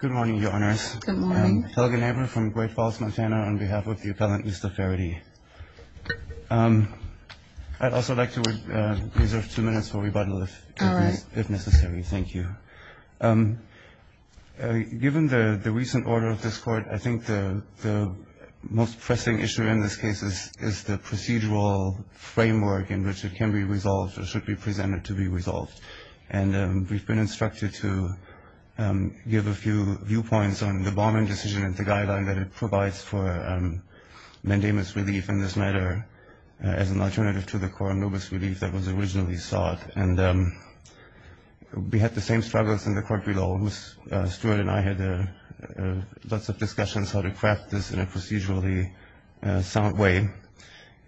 Good morning your honors. Good morning. Helgen Eber from Great Falls, Montana on behalf of the appellant Mr. Faherty. I'd also like to reserve two minutes for rebuttal if necessary. Thank you. Given the recent order of this court, I think the most pressing issue in this case is the procedural framework in which it can be resolved or should be presented to be resolved. And we've been instructed to give a few viewpoints on the bombing decision and the guideline that it provides for mandamus relief in this matter as an alternative to the coronobus relief that was originally sought. And we had the same struggles in the court below. Stuart and I had lots of discussions how to craft this in a procedurally sound way.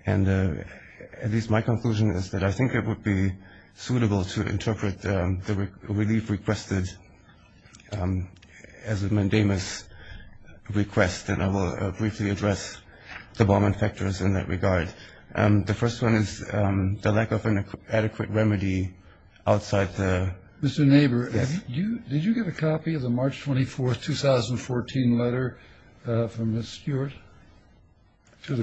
And at least my conclusion is that I think it would be suitable to interpret the relief requested as a mandamus request. And I will briefly address the bombing factors in that regard. The first one is the lack of an adequate remedy outside the... Mr. Eber, did you get a copy of the March 24, 2014 letter from Ms. Stuart?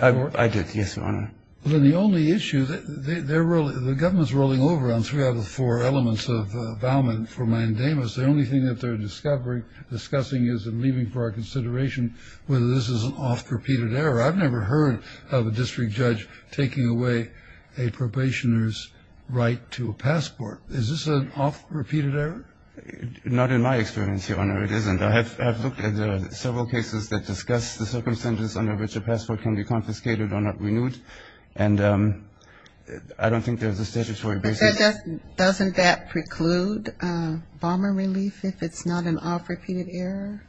I did, yes, Your Honor. Well, then the only issue, the government's rolling over on three out of four elements of the vowment for mandamus. The only thing that they're discussing is and leaving for our consideration whether this is an oft-repeated error. I've never heard of a district judge taking away a probationer's right to a passport. Is this an oft-repeated error? Not in my experience, Your Honor, it isn't. I have looked at several cases that discuss the circumstances under which a passport can be confiscated or not renewed. And I don't think there's a statutory basis. Doesn't that preclude bomber relief if it's not an oft-repeated error?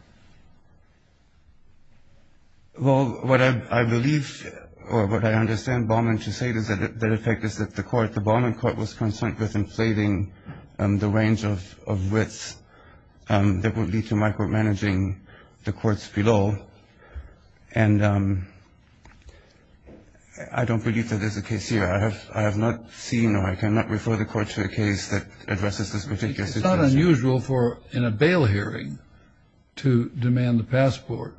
Well, what I believe or what I understand Bowman to say is that the effect is that the court, was concerned with inflating the range of writs that would lead to my court managing the courts below. And I don't believe that there's a case here. I have not seen or I cannot refer the court to a case that addresses this particular situation. It's not unusual for in a bail hearing to demand the passport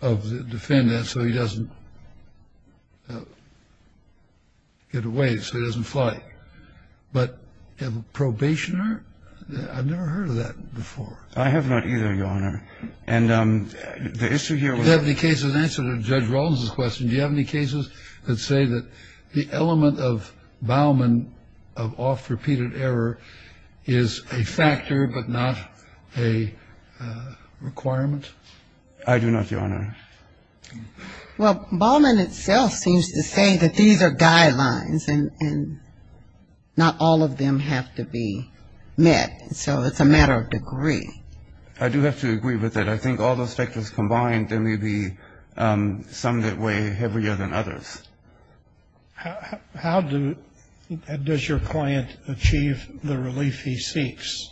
of the defendant so he doesn't get away, so he doesn't fly. But probationer? I've never heard of that before. I have not either, Your Honor. And the issue here was... Do you have any cases, in answer to Judge Rollins' question, do you have any cases that say that the element of Bowman of oft-repeated error is a factor but not a requirement? I do not, Your Honor. Well, Bowman itself seems to say that these are guidelines and not all of them have to be met. So it's a matter of degree. I do have to agree with that. I think all those factors combined, there may be some that weigh heavier than others. How does your client achieve the relief he seeks,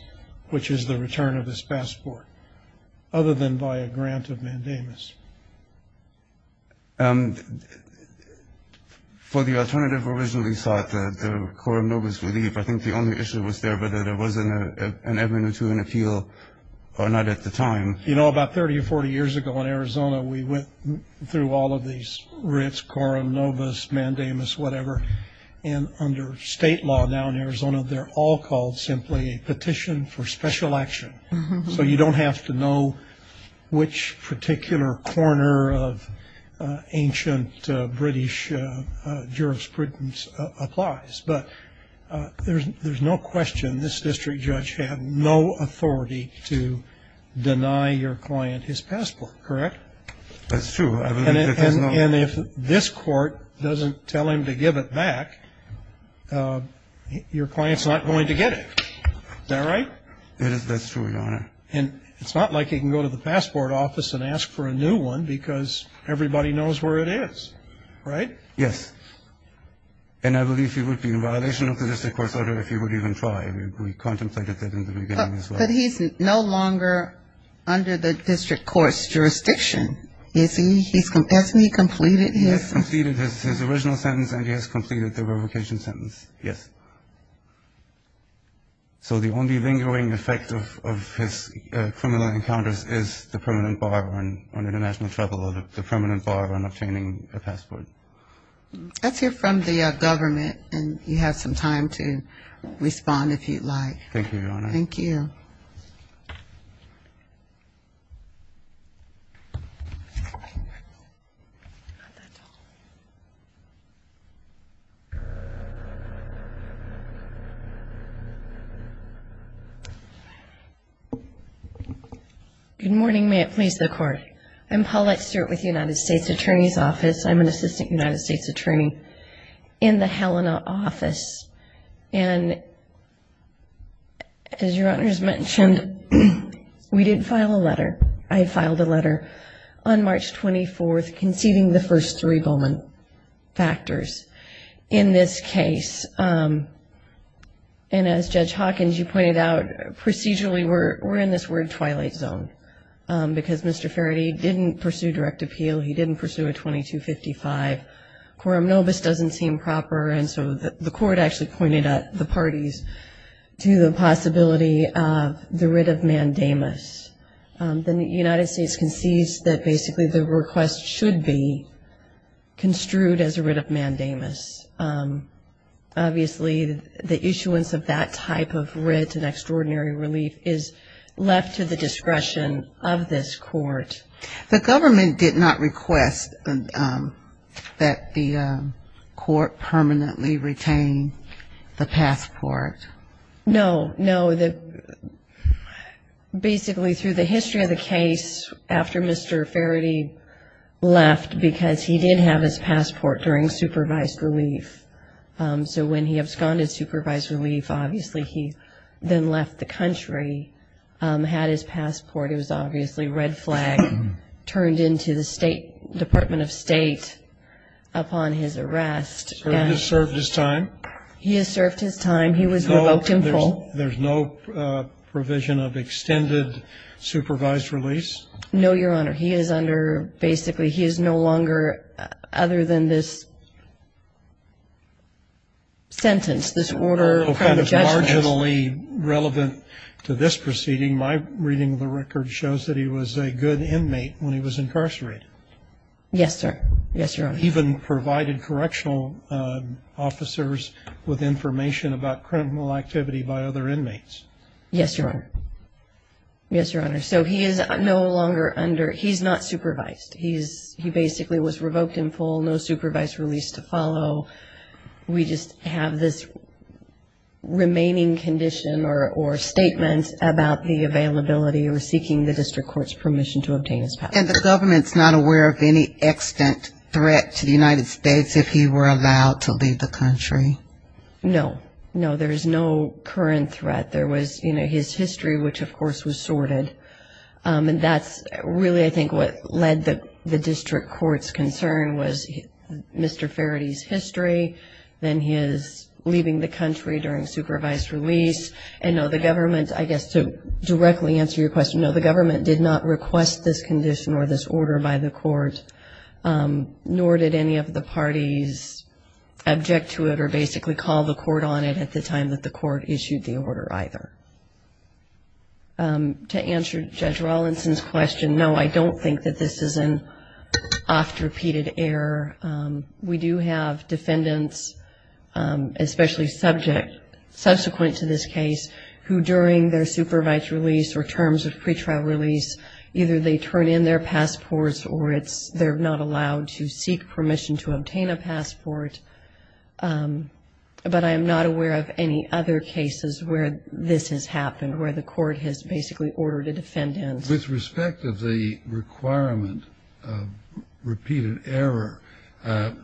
which is the return of his passport, other than by a grant of mandamus? For the alternative originally sought, the coram nobis relief, I think the only issue was there, whether there was an avenue to an appeal or not at the time. You know, about 30 or 40 years ago in Arizona, we went through all of these writs, coram nobis, mandamus, whatever, and under state law now in Arizona, they're all called simply a petition for special action. So you don't have to know which particular corner of ancient British jurisprudence applies. But there's no question this district judge had no authority to deny your client his passport, correct? That's true. And if this court doesn't tell him to give it back, your client's not going to get it. Is that right? It is. That's true, Your Honor. And it's not like he can go to the passport office and ask for a new one because everybody knows where it is, right? Yes. And I believe he would be in violation of the district court's order if he would even try. We contemplated that in the beginning as well. But he's no longer under the district court's jurisdiction, is he? Has he completed his? He has completed his original sentence and he has completed the revocation sentence, yes. So the only lingering effect of his criminal encounters is the permanent bar on international travel or the permanent bar on obtaining a passport. Let's hear from the government and you have some time to respond if you'd like. Thank you, Your Honor. Thank you. Good morning. May it please the court. I'm Paulette Stewart with the United States Attorney's Office. I'm an assistant United States attorney in the Helena office. And as Your Honor has mentioned, we did file a letter. I filed a letter on March 24th conceiving the first three Bowman factors. In this case, and as Judge Hawkins, you pointed out, procedurally we're in this word twilight zone because Mr. Faraday didn't pursue direct appeal. He didn't pursue a 2255. Quorum nobis doesn't seem proper. And so the court actually pointed at the parties to the possibility of the writ of mandamus. Then the United States concedes that basically the request should be The government did not request that the court permanently retain the passport. No, no. Basically, through the history of the case, after Mr. Faraday's arrest, he has served his time. He has served his time. He was revoked in full. There's no provision of extended supervised release. No, Your Honor. He is under, basically, he is no longer, other than this sentence, this order. Well, kind of marginally relevant to this proceeding, my reading of the record shows that he was a good inmate when he was incarcerated. Yes, sir. Yes, Your Honor. Even provided correctional officers with information about criminal activity by other inmates. Yes, Your Honor. Yes, Your Honor. So he is no longer under, he's not supervised. He basically was revoked in full. No supervised release to follow. We just have this remaining condition or statement about the availability or seeking the district court's permission to obtain his passport. And the government's not aware of any extant threat to the United States if he were allowed to leave the country? No. No, there is no current threat. There was, you know, his history, which, of course, was sorted. And that's really, I think, what led the district court's concern was Mr. Faraday's history, then his leaving the country during supervised release. And no, the government, I guess, to directly answer your question, no, the government did not request this condition or this order by the court, nor did any of the parties object to it or basically call the court on it at the time that the court issued the order either. To answer Judge Rawlinson's question, no, I don't think that this is an oft-repeated error. We do have defendants, especially subject, subsequent to this case, who during their supervised release or terms of pretrial release, either they turn in their passports or it's, they're not allowed to seek permission to obtain a passport. But I am not aware of any other cases where this has happened, where the court has basically ordered a defendant. With respect of the requirement of repeated error,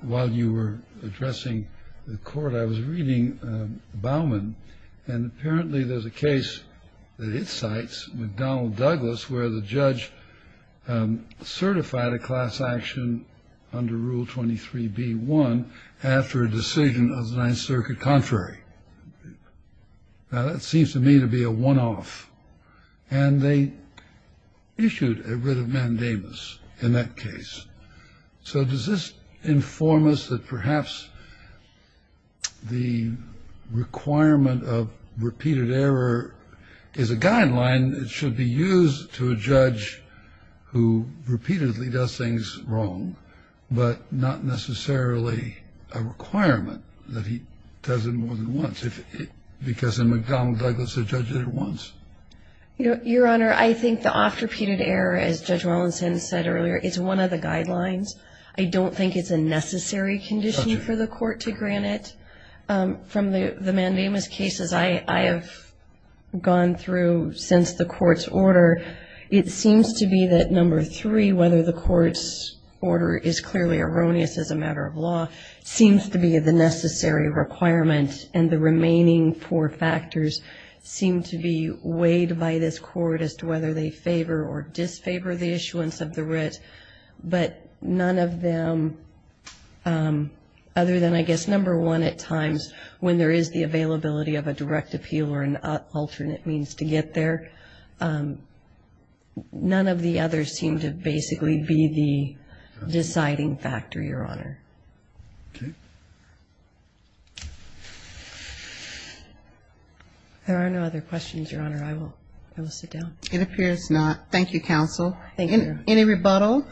while you were addressing the court, I was reading Bauman, and apparently there's a case that it cites with Donald Douglas, where the judge certified a class action under Rule 23b-1 after a decision of the Ninth Circuit contrary. Now, that seems to me to be a one-off. And they issued a writ of mandamus in that case. So does this inform us that perhaps the requirement of repeated error is a guideline that should be used to a judge who repeatedly does things wrong, but not necessarily a requirement that he does it more than once? Because in McDonald Douglas, the judge did it once. Your Honor, I think the oft-repeated error, as Judge Rawlinson said earlier, is one of the guidelines. I don't think it's a necessary condition for the court to grant it. From the mandamus cases I have gone through since the court's order, it seems to be that number three, whether the court's order is clearly erroneous as a matter of law, seems to be the necessary requirement. And the remaining four factors seem to be weighed by this court as to whether they favor or disfavor the issuance of the writ. But none of them, other than I guess number one at times, when there is the availability of a direct appeal or an alternate means to get there, none of the others seem to basically be the deciding factor, Your Honor. There are no other questions, Your Honor. I will sit down. It appears not. Thank you, counsel. Any rebuttal?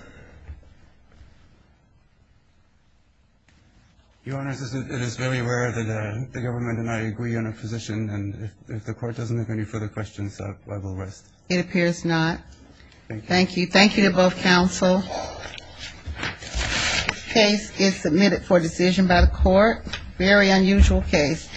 Your Honor, it is very rare that the government and I agree on a position. And if the court doesn't have any further questions, I will rest. It appears not. Thank you. Thank you to both counsel. Case is submitted for decision by the court. Very unusual case.